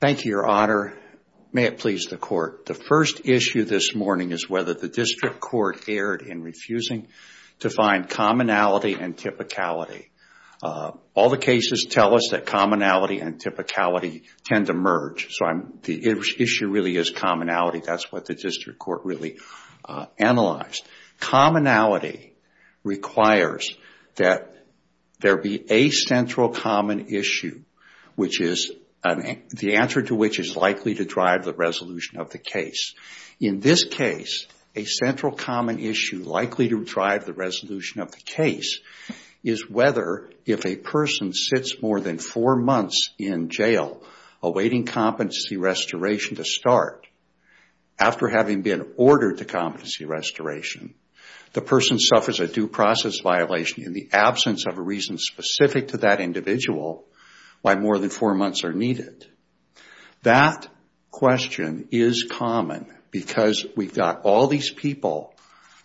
Thank you, your honor. May it please the court. The first issue this morning is whether the district court erred in refusing to find commonality and typicality. All the cases tell us that commonality and typicality tend to merge. So the issue really is commonality. That's what the district court really analyzed. Commonality requires that there be a central common issue which is the answer to which is likely to drive the resolution of the case. In this case, a central common issue likely to drive the resolution of the case is whether if a person sits more than four months in jail awaiting competency restoration to start after having been ordered to competency restoration, the person suffers a due process violation in the absence of a reason specific to that individual why more than four months are needed. That question is common because we've got all these people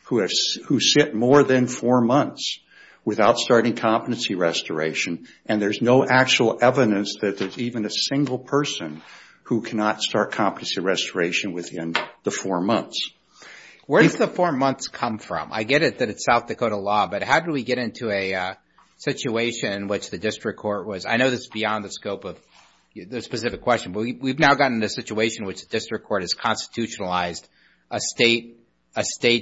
who sit more than four months without starting competency restoration and there's no actual evidence that there's even a single person who cannot start competency restoration within the four months. Where does the four months come from? I get it that it's South Dakota law, but how do we get into a situation in which the district court was... I know this is beyond the scope of the specific question, but we've now gotten into a situation in which the district court has constitutionalized a state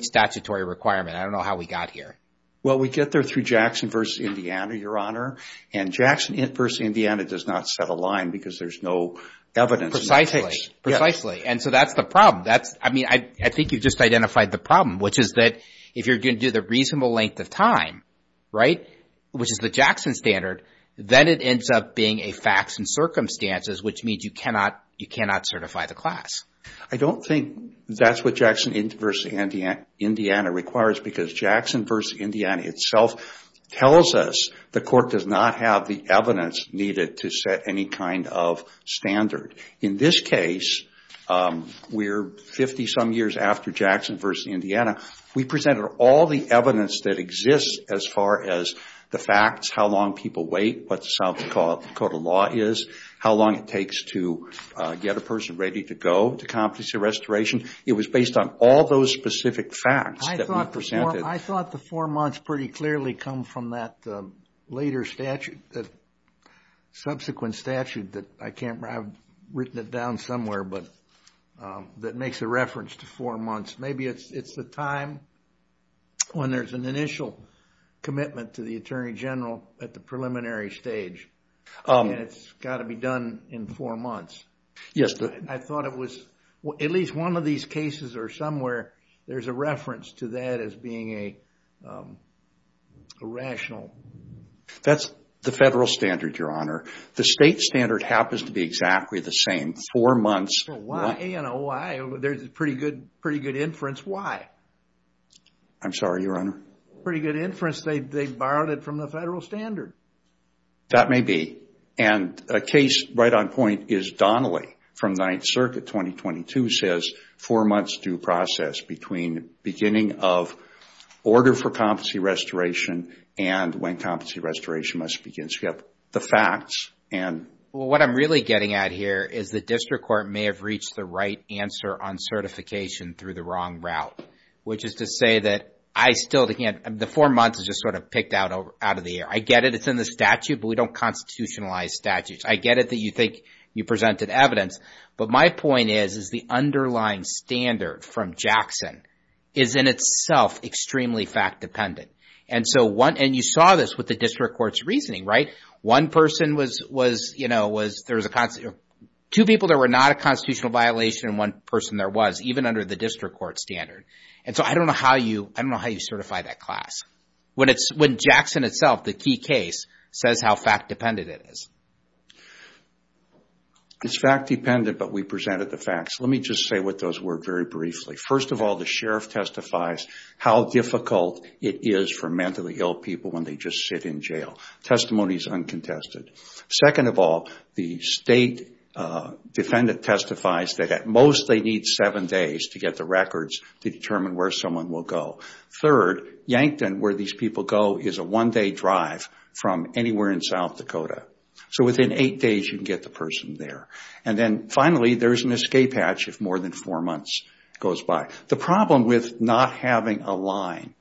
statutory requirement. I don't know how we got here. Well, we get there through Jackson v. Indiana, your honor, and Jackson v. Indiana does not set a line because there's no evidence in the case. Precisely. And so that's the problem. I think you've just identified the problem, which is that if you're going to do the reasonable length of time, which is the Jackson standard, then it ends up being a facts and circumstances, which means you cannot certify the class. I don't think that's what Jackson v. Indiana requires because Jackson v. Indiana itself tells us the court does not have the evidence needed to set any kind of standard. In this case, we're 50-some years after Jackson v. Indiana. We presented all the evidence that exists as far as the facts, how long people wait, what South Dakota law is, how long it takes to get a person ready to go to competency restoration. It was based on all those specific facts that we presented. I thought the four months pretty clearly come from that later statute, that subsequent statute that I can't remember. I've written it down somewhere, but that makes a reference to four months. Maybe it's the time when there's an initial commitment to the attorney general at the preliminary stage, and it's got to be done in four months. Yes. I thought it was, at least one of these cases or somewhere, there's a reference to that as being a rational... That's the federal standard, Your Honor. The state standard happens to be exactly the same. Four months... Why? There's a pretty good inference. Why? I'm sorry, Your Honor? Pretty good inference. They borrowed it from the federal standard. That may be. A case right on point is Donnelly from Ninth Circuit 2022 says four months due process between beginning of order for competency restoration and when competency restoration must begin. You've got the facts and... What I'm really getting at here is the district court may have reached the right answer on certification through the wrong route, which is to say that I still can't... The four months is just sort of picked out of the air. I get it. It's in the statute, but we don't constitutionalize statutes. I get it that you think you presented evidence, but my point is, is the underlying standard from Jackson is in itself extremely fact-dependent. You saw this with the district court's reasoning, right? One person was... There was two people that were not a constitutional violation and one person there was, even under the district court standard. I don't know how you certify that class when Jackson itself, the key case, says how fact-dependent it is. It's fact-dependent, but we presented the facts. Let me just say what those were very briefly. First of all, the sheriff testifies how difficult it is for mentally ill people when they just sit in jail. Testimony is uncontested. Second of all, the state defendant testifies that at most they need seven days to get the records to determine where someone will go. Third, Yankton, where these people go, is a one-day drive from anywhere in South Dakota. Within eight days you can get the person there. Finally, there's an escape hatch if more than four months goes by. The problem with not having a line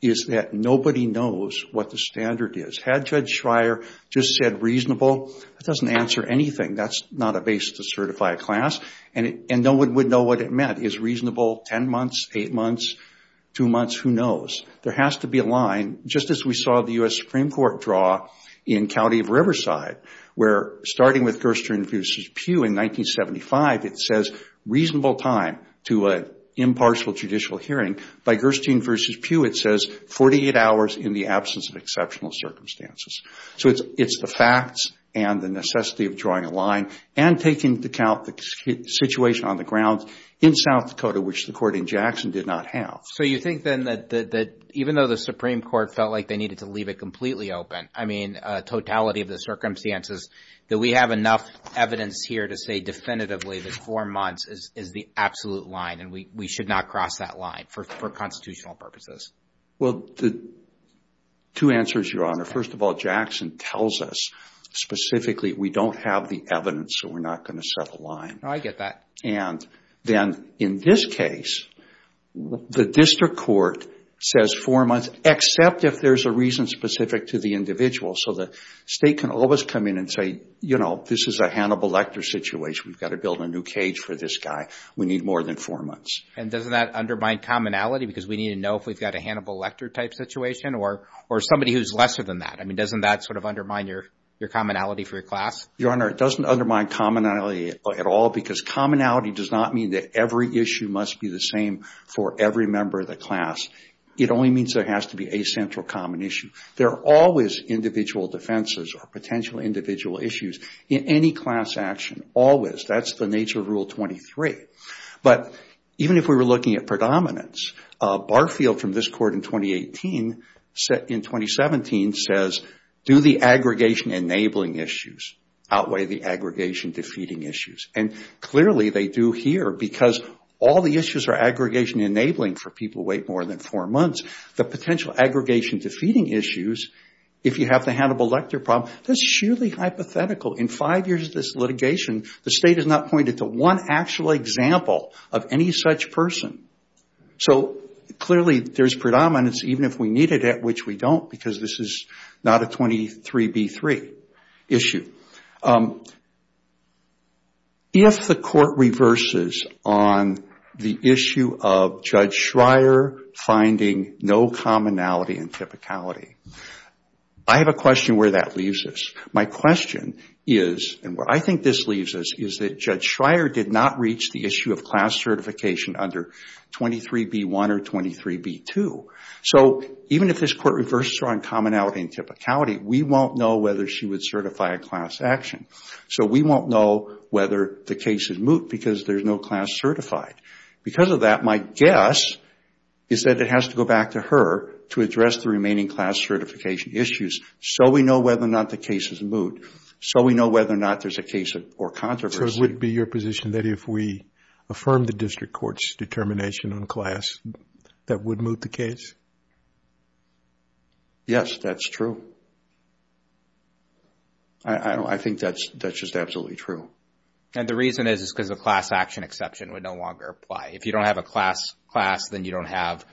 is that nobody knows what the standard is. Had Judge Schreier just said reasonable, that doesn't answer anything. That's not a basis to certify a class. No one would know what it meant. Is reasonable ten months, eight months, two months? Who knows? There has to be a line, just as we saw the U.S. Supreme Court draw in County of Riverside, where starting with Gerstein v. Pugh in 1975, it says reasonable time to an impartial judicial hearing. By Gerstein v. Pugh, it says 48 hours in the absence of exceptional circumstances. It's the facts and the necessity of drawing a line and taking into account the situation on the ground in South Dakota, which the court in Jackson did not have. You think then that even though the Supreme Court felt like they needed to leave it completely open, totality of the circumstances, that we have enough evidence here to say definitively that four months is the absolute line and we should not cross that line for constitutional purposes? Two answers, Your Honor. First of all, Jackson tells us specifically we don't have the evidence so we're not going to set a line. Oh, I get that. And then in this case, the district court says four months except if there's a reason specific to the individual so the state can always come in and say, you know, this is a Hannibal Lecter situation. We've got to build a new cage for this guy. We need more than four months. And doesn't that undermine commonality because we need to know if we've got a Hannibal Lecter type situation or somebody who's lesser than that? I mean, doesn't that sort of undermine your commonality for your class? Your Honor, it doesn't undermine commonality at all because commonality does not mean that every issue must be the same for every member of the class. It only means there has to be a central common issue. There are always individual defenses or potential individual issues in any class action, always. That's the nature of Rule 23. But even if we were looking at Barfield from this court in 2017 says, do the aggregation-enabling issues outweigh the aggregation-defeating issues? And clearly they do here because all the issues are aggregation-enabling for people who wait more than four months. The potential aggregation-defeating issues, if you have the Hannibal Lecter problem, that's surely hypothetical. In five years of this so clearly there's predominance even if we needed it, which we don't because this is not a 23b3 issue. If the court reverses on the issue of Judge Schreier finding no commonality and typicality, I have a question where that leaves us. My question is, and where I think this leaves us, is that Judge Schreier did not reach the issue of class certification under 23b1 or 23b2. So even if this court reverses on commonality and typicality, we won't know whether she would certify a class action. So we won't know whether the case is moot because there's no class certified. Because of that, my guess is that it has to go back to her to address the remaining class certification issues so we know whether or not the case is moot, so we know whether or not there's a case or controversy. So it would be your position that if we affirm the district court's determination on class, that would moot the case? Yes, that's true. I think that's just absolutely true. And the reason is because the class action exception would no longer apply. If you don't have a class, then you don't have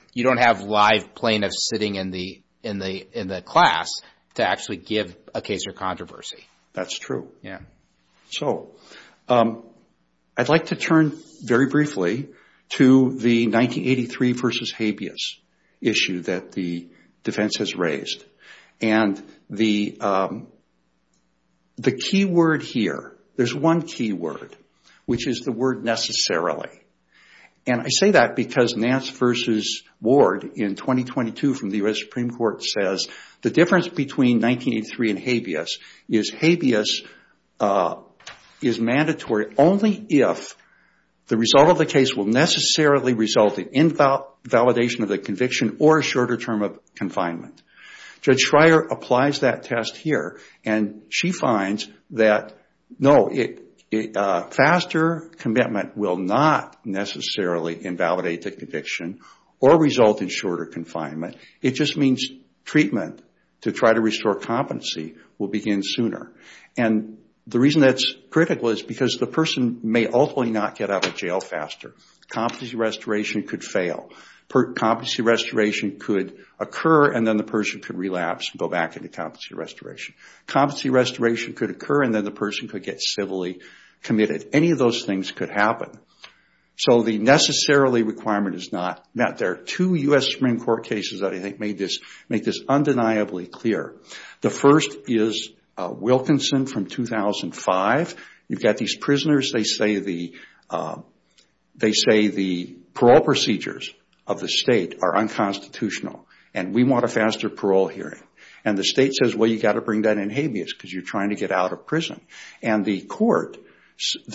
live plaintiffs sitting in the class to actually give a case or controversy. That's true. So I'd like to turn very briefly to the 1983 versus habeas issue that the defense has raised. And the key word here, there's one key word, which is the word necessarily. And I say that because Nance versus Ward in 2022 from the U.S. Supreme Court says the difference between 1983 and habeas is habeas is mandatory only if the result of the case will necessarily result in invalidation of the conviction or a shorter term of confinement. Judge Schreyer applies that test here and she finds that no, a faster commitment will not necessarily invalidate the conviction or result in shorter confinement. It just means treatment to try to restore competency will begin sooner. And the reason that's critical is because the person may ultimately not get out of jail faster. Competency restoration could fail. Competency restoration could occur and then the person could relapse and go back into competency restoration. Competency restoration could occur and then the person could get civilly committed. Any of those things could happen. So the necessarily requirement is not met. There are two U.S. Supreme Court cases that I think make this undeniably clear. The first is Wilkinson from 2005. You've got these prisoners. They say the parole procedures of the state are unconstitutional and we want a faster parole hearing. And the state says, well, you've got to bring that in habeas because you're trying to get out of prison. And the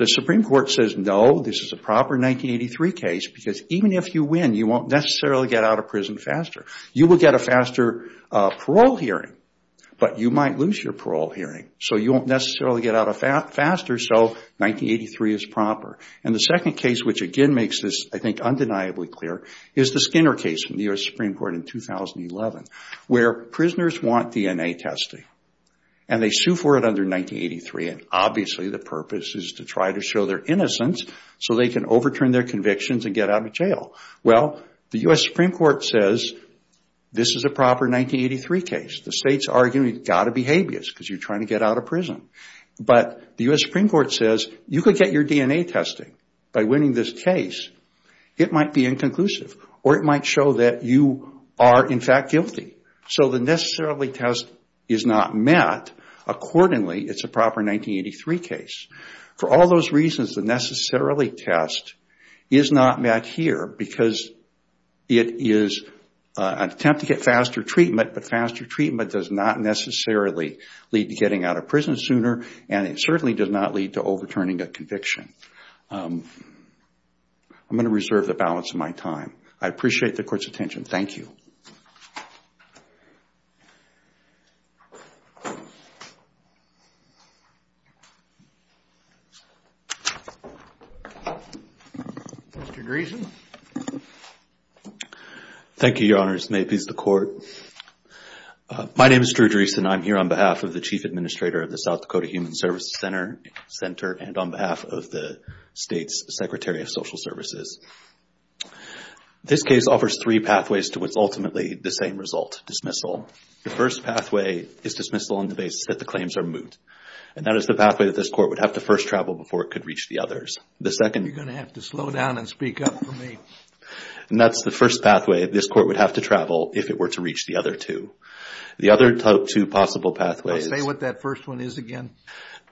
Supreme Court says, no, this is a proper 1983 case because even if you win, you won't necessarily get out of prison faster. You will get a faster parole hearing, but you might lose your parole hearing. So you won't necessarily get out faster, so 1983 is proper. And the second case, which again makes this, I think, undeniably clear, is the Skinner case from the U.S. Supreme Court in 2011, where prisoners want DNA testing and they sue for it under 1983. And obviously, the purpose is to try to show their innocence so they can overturn their convictions and get out of jail. Well, the U.S. Supreme Court says, this is a proper 1983 case. The state's arguing it's got to be habeas because you're trying to get out of prison. But the U.S. Supreme Court says, you could get your DNA testing by winning this case. It might be inconclusive or it might show that you are, in fact, guilty. So the necessarily test is not met accordingly. It's a proper 1983 case. For all those reasons, the necessarily test is not met here because it is an attempt to get faster treatment, but faster treatment does not necessarily lead to getting out of prison sooner and it certainly does not lead to overturning a conviction. I'm going to reserve the balance of my time. I appreciate the Court's attention. Thank you. Mr. Dreesen. Thank you, Your Honors. May it please the Court. My name is Drew Dreesen. I'm here on behalf of the Chief Administrator of the South Dakota Human Services Center and on behalf of the state's Secretary of Social Services. This case offers three pathways to what's ultimately the same result, dismissal. The first pathway is dismissal on the basis that the claims are moot. And that is the pathway that this Court would have to first travel before it could reach the others. You're going to have to slow down and speak up for me. And that's the first pathway this Court would have to travel if it were to reach the other two. The other two possible pathways... Say what that first one is again.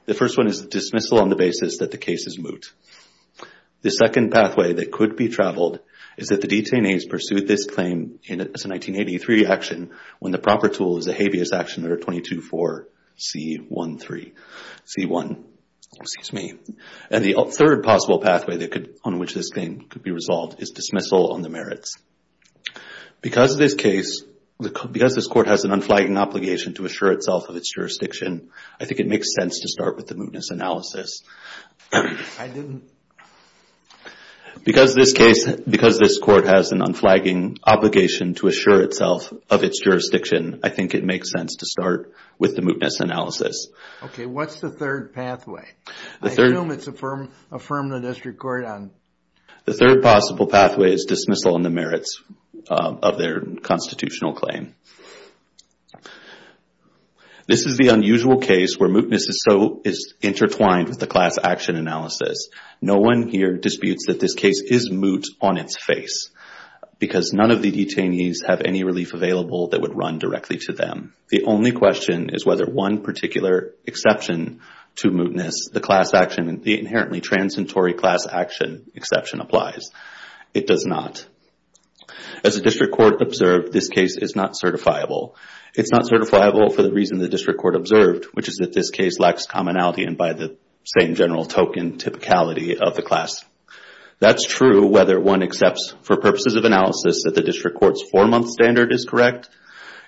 The first one is dismissal on the basis that the case is moot. The second pathway that could be traveled is that the detainees pursued this claim as a 1983 action when the proper tool is a habeas action under 22-4C1. And the third possible pathway on which this thing could be resolved is dismissal on the merits. Because of this case, because this Court has an unflagging obligation to assure itself of its jurisdiction, I think it makes sense to start with the mootness analysis. Because this Court has an unflagging obligation to assure itself of its jurisdiction, I think it makes sense to start with the mootness analysis. Okay, what's the third pathway? I assume it's affirm the district court on... The third possible pathway is dismissal on the merits of their constitutional claim. This is the unusual case where mootness is intertwined with the class action analysis. No one here disputes that this case is moot on its face because none of the detainees have any relief available that would run directly to them. The only question is whether one particular exception to mootness, the class action, the inherently transitory class action exception applies. It does not. As the district court observed, this case is not certifiable. It's not certifiable for the reason the district court observed, which is that this case lacks commonality and by the same general token typicality of the class. That's true whether one accepts, for purposes of analysis, that the district court's four-month standard is correct.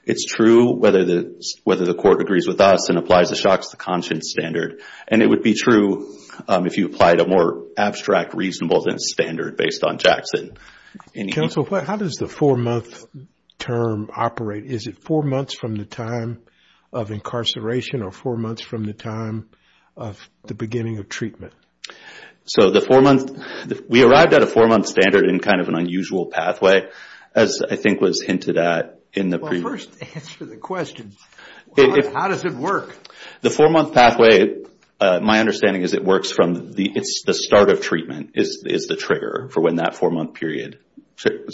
It's true whether the court agrees with us and applies the shocks to conscience standard. And it would be true if you applied a more abstract reasonable than standard based on Jackson. Counsel, how does the four-month term operate? Is it four months from the time of incarceration or four months from the time of the beginning of treatment? So, the four-month, we arrived at a four-month standard in kind of an unusual pathway, as I think was hinted at in the previous. Well, first, answer the question. How does it work? The four-month pathway, my understanding is it works from the, it's the start of treatment is the trigger for when that four-month period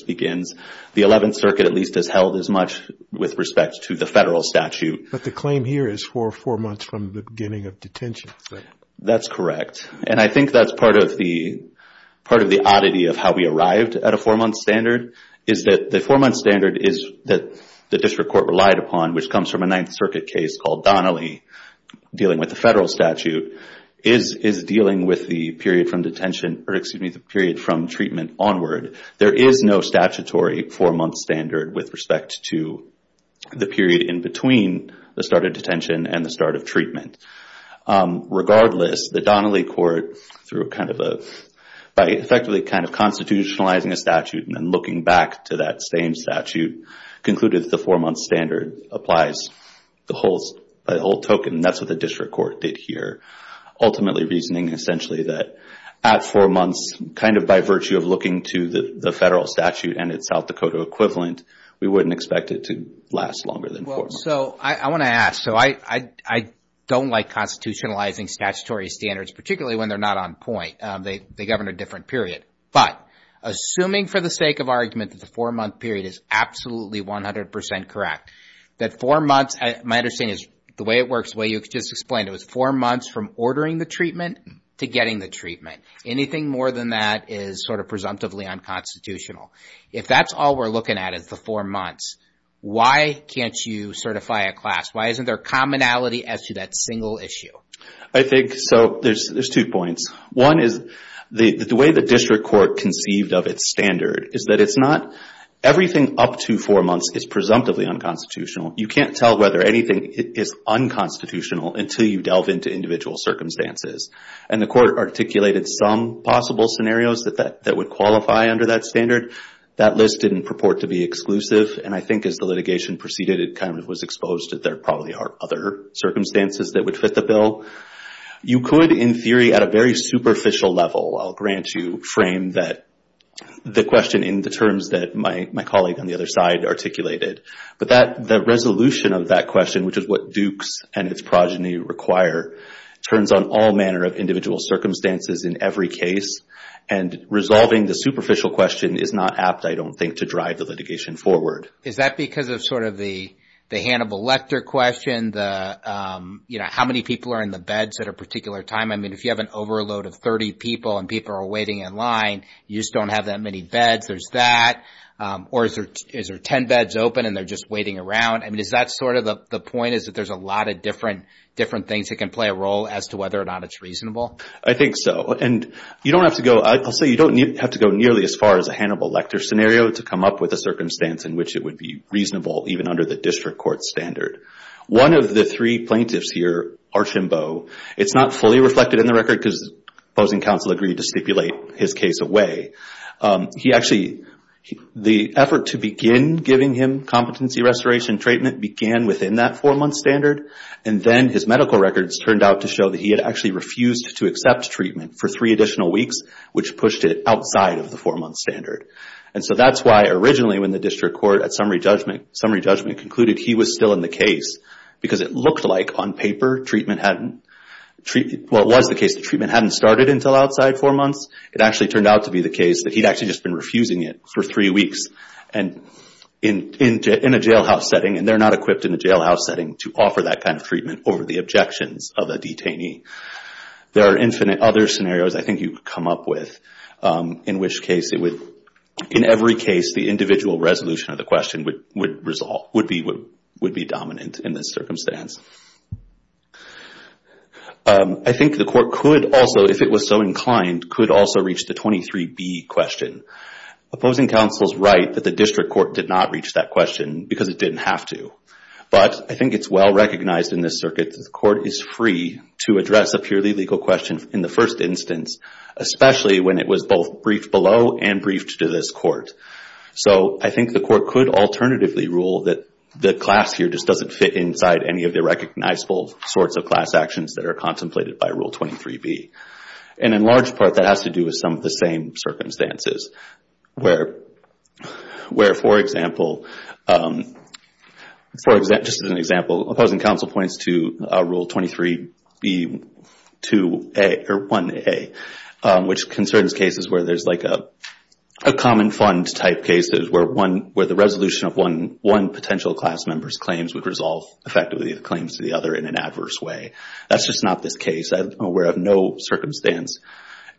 begins. The 11th Circuit at least has held as much with respect to the federal statute. But the claim here is for four months from the beginning of detention. That's correct. And I think that's part of the oddity of how we arrived at a four-month standard is that the four-month standard is that the district court relied upon, which comes from a Ninth Circuit case called Donnelly dealing with the federal statute, is dealing with the period from detention, or excuse me, the period from treatment onward. There is no statutory four-month standard with respect to the period in between the start of detention and the start of treatment. Regardless, the Donnelly court, through a kind of a, by effectively kind of constitutionalizing a statute and then looking back to that same statute, concluded that the four-month standard applies the whole, by the whole token. That's what the district court did here, ultimately reasoning essentially that at four months, kind of by virtue of looking to the federal statute and its South Dakota equivalent, we wouldn't expect it to last longer than four months. So I want to ask, so I don't like constitutionalizing statutory standards, particularly when they're not on point. They govern a different period. But assuming for the sake of argument that the four-month period is absolutely 100% correct, that four months, my understanding is the way it works, the way you just explained, it was four months from ordering the treatment to getting the treatment. Anything more than that is sort of presumptively unconstitutional. If that's all we're looking at is the four months, why can't you certify a class? Why isn't there commonality as to that single issue? I think, so there's two points. One is the way the district court conceived of its standard is that it's not, everything up to four months is presumptively unconstitutional. You can't tell whether anything is unconstitutional until you delve into individual circumstances. And the court articulated some possible scenarios that would qualify under that standard. That list didn't purport to be exclusive. And I think as the litigation proceeded, it kind of was exposed that there probably are other circumstances that would fit the bill. You could, in theory, at a very superficial level, I'll grant you, frame the question in the terms that my colleague on the other side articulated. But the resolution of that question, which is what Dukes and its progeny require, turns on all manner of individual circumstances in every case. And resolving the superficial question is not apt, I don't think, to drive the litigation forward. Is that because of sort of the Hannibal Lecter question? How many people are in the beds at a particular time? I mean, if you have an overload of 30 people and people are waiting in line, you just don't have that many beds. There's that. Or is there 10 beds open and they're just waiting around? I mean, is that sort of the point? Is that there's a lot of different things that can play a role as to whether or not it's reasonable? I think so. And you don't have to go, I'll say you don't have to go nearly as far as a Hannibal Lecter scenario to come up with a circumstance in which it would be reasonable, even under the district court standard. One of the three plaintiffs here, Archambeau, it's not fully reflected in the record because opposing counsel agreed to stipulate his case away. He actually, the effort to begin giving him competency restoration treatment began within that four-month standard. And then his medical records turned out to show that he had actually refused to accept treatment for three additional weeks, which pushed it outside of the four-month standard. And so that's why originally when the district court at summary judgment concluded he was still in the case because it looked like on paper treatment hadn't, well, it was the case that treatment hadn't started until outside four months. It actually turned out to be the case that he'd actually just been refusing it for three weeks in a jailhouse setting, and they're not equipped in a jailhouse setting to offer that kind of treatment over the objections of a detainee. There are infinite other scenarios I think you could come up with in which case it would, in every case the individual resolution of the question would resolve, would be dominant in this circumstance. I think the court could also, if it was so inclined, could also reach the 23B question. Opposing counsel's right that the district court did not reach that question because it didn't have to. But I think it's well recognized in this circuit that the court is free to address a purely legal question in the first instance, especially when it was both briefed below and briefed to this court. So I think the court could alternatively rule that the class here just doesn't fit inside any of the recognizable sorts of class actions that are contemplated by Rule 23B. And in large part, that has to do with some of the same circumstances where, for example, just as an example, opposing counsel points to Rule 23B-1A, which concerns cases where there's like a common fund type case that is where the resolution of one potential class member's claims would resolve effectively the claims to the other in an adverse way. That's just not this case. I'm aware of no circumstance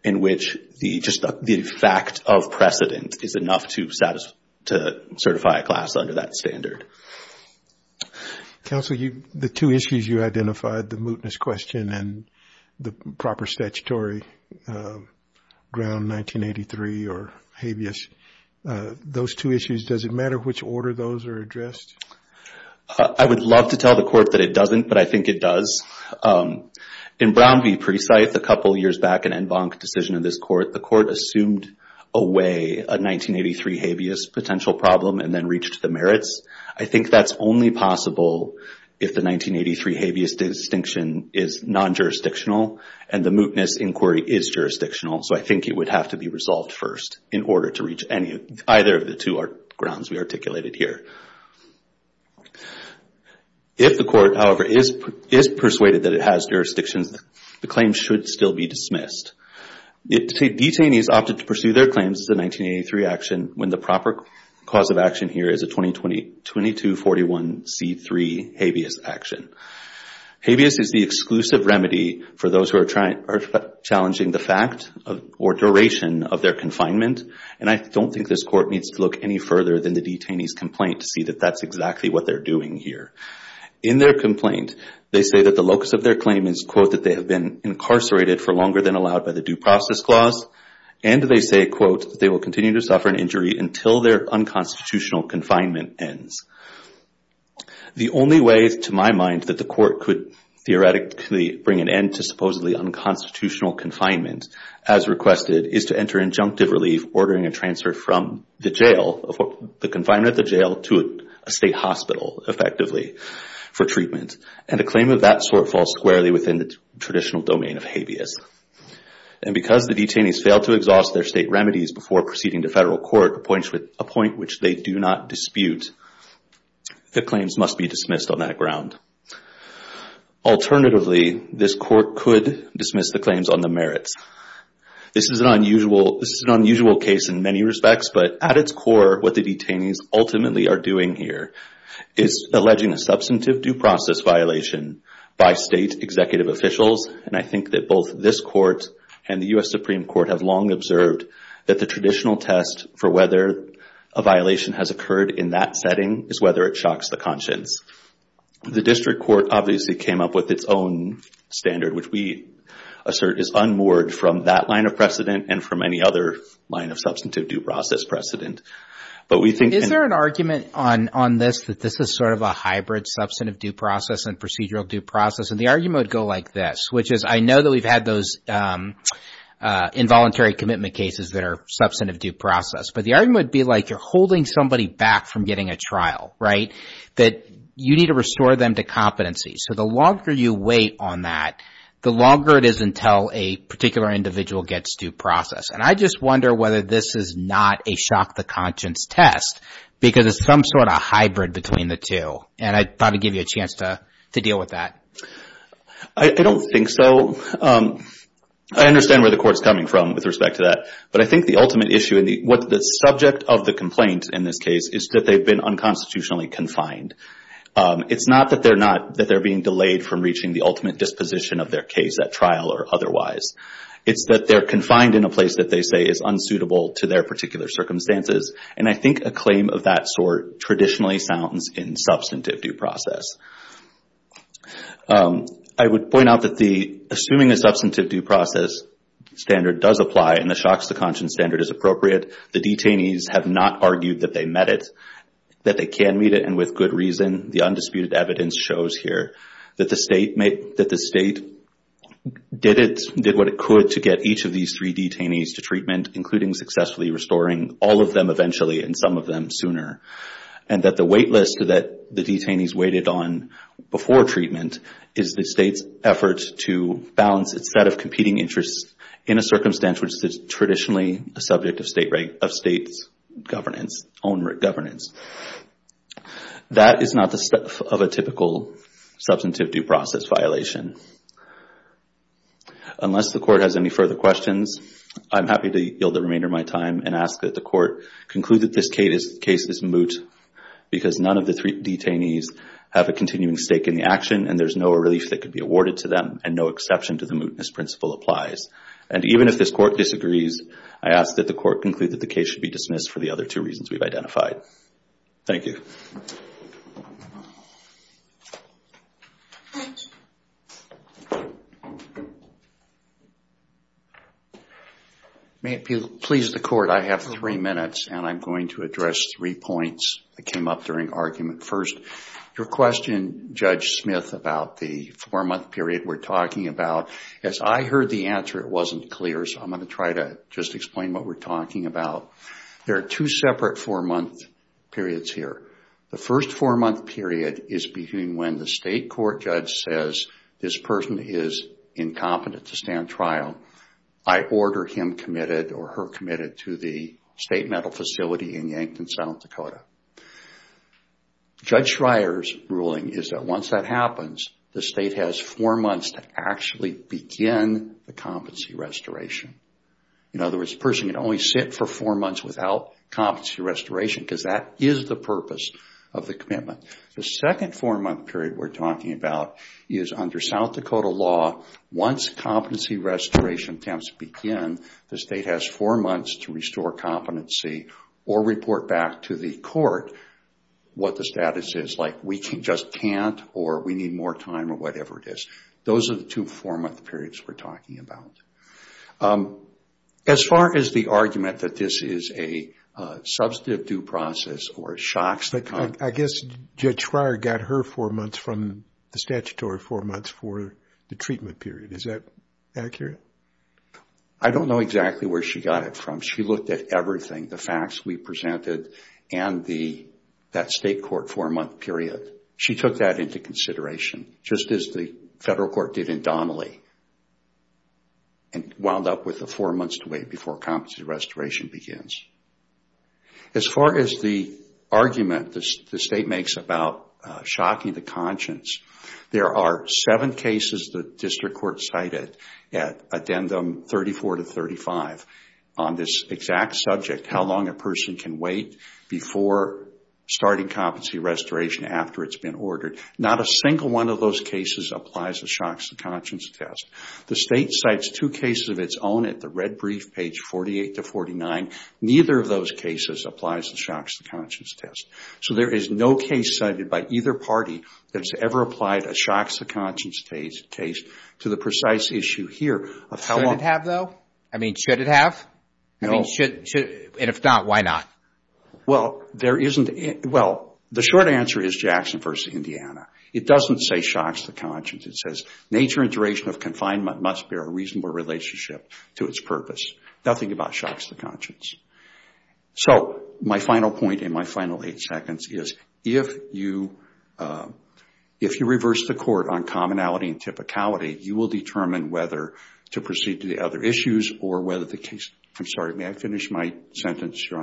in which just the fact of precedent is enough to certify a class under that standard. Counsel, the two issues you identified, the mootness question and the proper statutory ground 1983 or habeas, those two issues, does it matter which order those are addressed? I would love to tell the court that it doesn't, but I think it does. In Brown v. Presythe, a couple years back, an en banc decision of this court, the court assumed away a 1983 habeas potential problem and then reached the merits. I think that's only possible if the 1983 habeas distinction is non-jurisdictional and the mootness inquiry is jurisdictional. So I think it would have to be resolved first in order to reach either of the two grounds we articulated here. If the court, however, is persuaded that it has jurisdictions, the claim should still be dismissed. Detainees opted to pursue their claims as a 1983 action when the proper cause of action here is a 2241C3 habeas action. Habeas is the exclusive remedy for those who are challenging the fact or duration of their confinement, and I don't think this court needs to look any further than the detainee's complaint to see that that's exactly what they're doing here. In their complaint, they say that the locus of their claim is, quote, that they have been incarcerated for longer than allowed by the due process clause, and they say, quote, they will continue to suffer an injury until their unconstitutional confinement ends. The only way, to my mind, that the court could theoretically bring an end to supposedly unconstitutional confinement, as requested, is to enter injunctive relief, ordering a transfer from the jail, the confinement at the jail, to a state hospital, effectively, for treatment. And a claim of that sort falls squarely within the traditional domain of habeas. And because the detainees failed to exhaust their state remedies before proceeding to federal court, a point which they do not dispute, the claims must be dismissed on that ground. Alternatively, this court could dismiss the claims on the merits. This is an unusual case in many respects, but at its core, what the detainees ultimately are doing here is alleging a substantive due process violation by state executive officials. And I think that both this court and the U.S. Supreme Court have long observed that the traditional test for whether a violation has occurred in that setting is whether it shocks the conscience. The district court obviously came up with its own standard, which we assert is unmoored from that line of precedent and from any other line of substantive due process precedent. But we think— Is there an argument on this that this is sort of a hybrid substantive due process and procedural due process? And the argument would go like this, which is, I know that we've had those involuntary commitment cases that are substantive due process, but the argument would be like you're holding somebody back from getting a trial, right? That you need to restore them to competency. So the longer you wait on that, the longer it is until a particular individual gets due process. And I just wonder whether this is not a shock the conscience test because it's some sort of hybrid between the two. And I'd probably give you a chance to deal with that. I don't think so. I understand where the court's coming from with respect to that. But I think the ultimate issue and what the subject of the complaint in this case is that they've been unconstitutionally confined. It's not that they're not— that they're being delayed from reaching the ultimate disposition of their case at trial or otherwise. It's that they're confined in a place that they say is unsuitable to their particular circumstances. And I think a claim of that sort traditionally sounds in substantive due process. I would point out that the— assuming a substantive due process standard does apply and the shock's the conscience standard is appropriate, the detainees have not argued that they met it, that they can meet it, and with good reason. The undisputed evidence shows here that the state made— that the state did it— did what it could to get each of these three detainees to treatment, including successfully restoring all of them eventually and some of them sooner. And that the wait list that the detainees waited on before treatment is the state's effort to balance its set of competing interests in a circumstance which is traditionally a subject of state— of state's governance, own governance. That is not the stuff of a typical substantive due process violation. Unless the court has any further questions, I'm happy to yield the remainder of my time and ask that the court conclude that this case is moot because none of the three detainees have a continuing stake in the action and there's no relief that could be awarded to them and no exception to the mootness principle applies. And even if this court disagrees, I ask that the court conclude that the case should be dismissed for the other two reasons we've identified. Thank you. May it please the court, I have three minutes and I'm going to address three points that came up during argument. First, your question, Judge Smith, about the four-month period we're talking about. As I heard the answer, it wasn't clear, so I'm going to try to just explain what we're talking about. There are two separate four-month periods here. The first four-month period is between when the state court judge says this person is incompetent to stand trial. I order him committed or her committed to the state mental facility in Yankton, South Dakota. Judge Schreyer's ruling is that once that happens, the state has four months to actually begin the competency restoration. In other words, the person can only sit for four months without competency restoration because that is the purpose of the commitment. The second four-month period we're talking about is under South Dakota law. Once competency restoration attempts begin, the state has four months to restore competency or report back to the court what the status is, like we just can't or we need more time or whatever it is. Those are the two four-month periods we're talking about. As far as the argument that this is a substantive due process or a shock... I guess Judge Schreyer got her four months from the statutory four months for the treatment period. Is that accurate? I don't know exactly where she got it from. She looked at everything, the facts we presented and that state court four-month period. She took that into consideration, just as the federal court did in Donnelly and wound up with the four months to wait before competency restoration begins. As far as the argument the state makes about shocking the conscience, there are seven cases the district court cited at addendum 34 to 35 on this exact subject, how long a person can wait before starting competency restoration after it's been ordered. Not a single one of those cases applies the shocks to conscience test. The state cites two cases of its own at the red brief page 48 to 49. Neither of those cases applies the shocks to conscience test. So there is no case cited by either party that's ever applied a shocks to conscience case to the precise issue here. Should it have though? I mean, should it have? And if not, why not? Well, there isn't... Well, the short answer is Jackson versus Indiana. It doesn't say shocks to conscience. It says nature and duration of confinement must bear a reasonable relationship to its purpose. Nothing about shocks to conscience. So my final point in my final eight seconds is if you reverse the court on commonality and typicality, you will determine whether to proceed to the other issues or whether the case... I'm sorry, may I finish my sentence, Your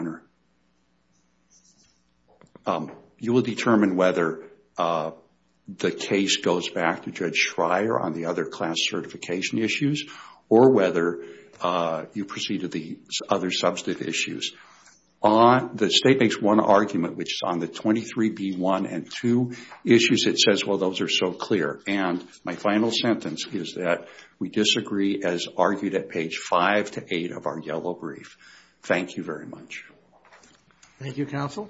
Honor? You will determine whether the case goes back to Judge Schreier on the other class certification issues or whether you proceed to the other substantive issues. The state makes one argument, which is on the 23B1 and 2 issues, it says, well, those are so clear. And my final sentence is that we disagree as argued at page 5 to 8 of our yellow brief. Thank you very much. Thank you, counsel.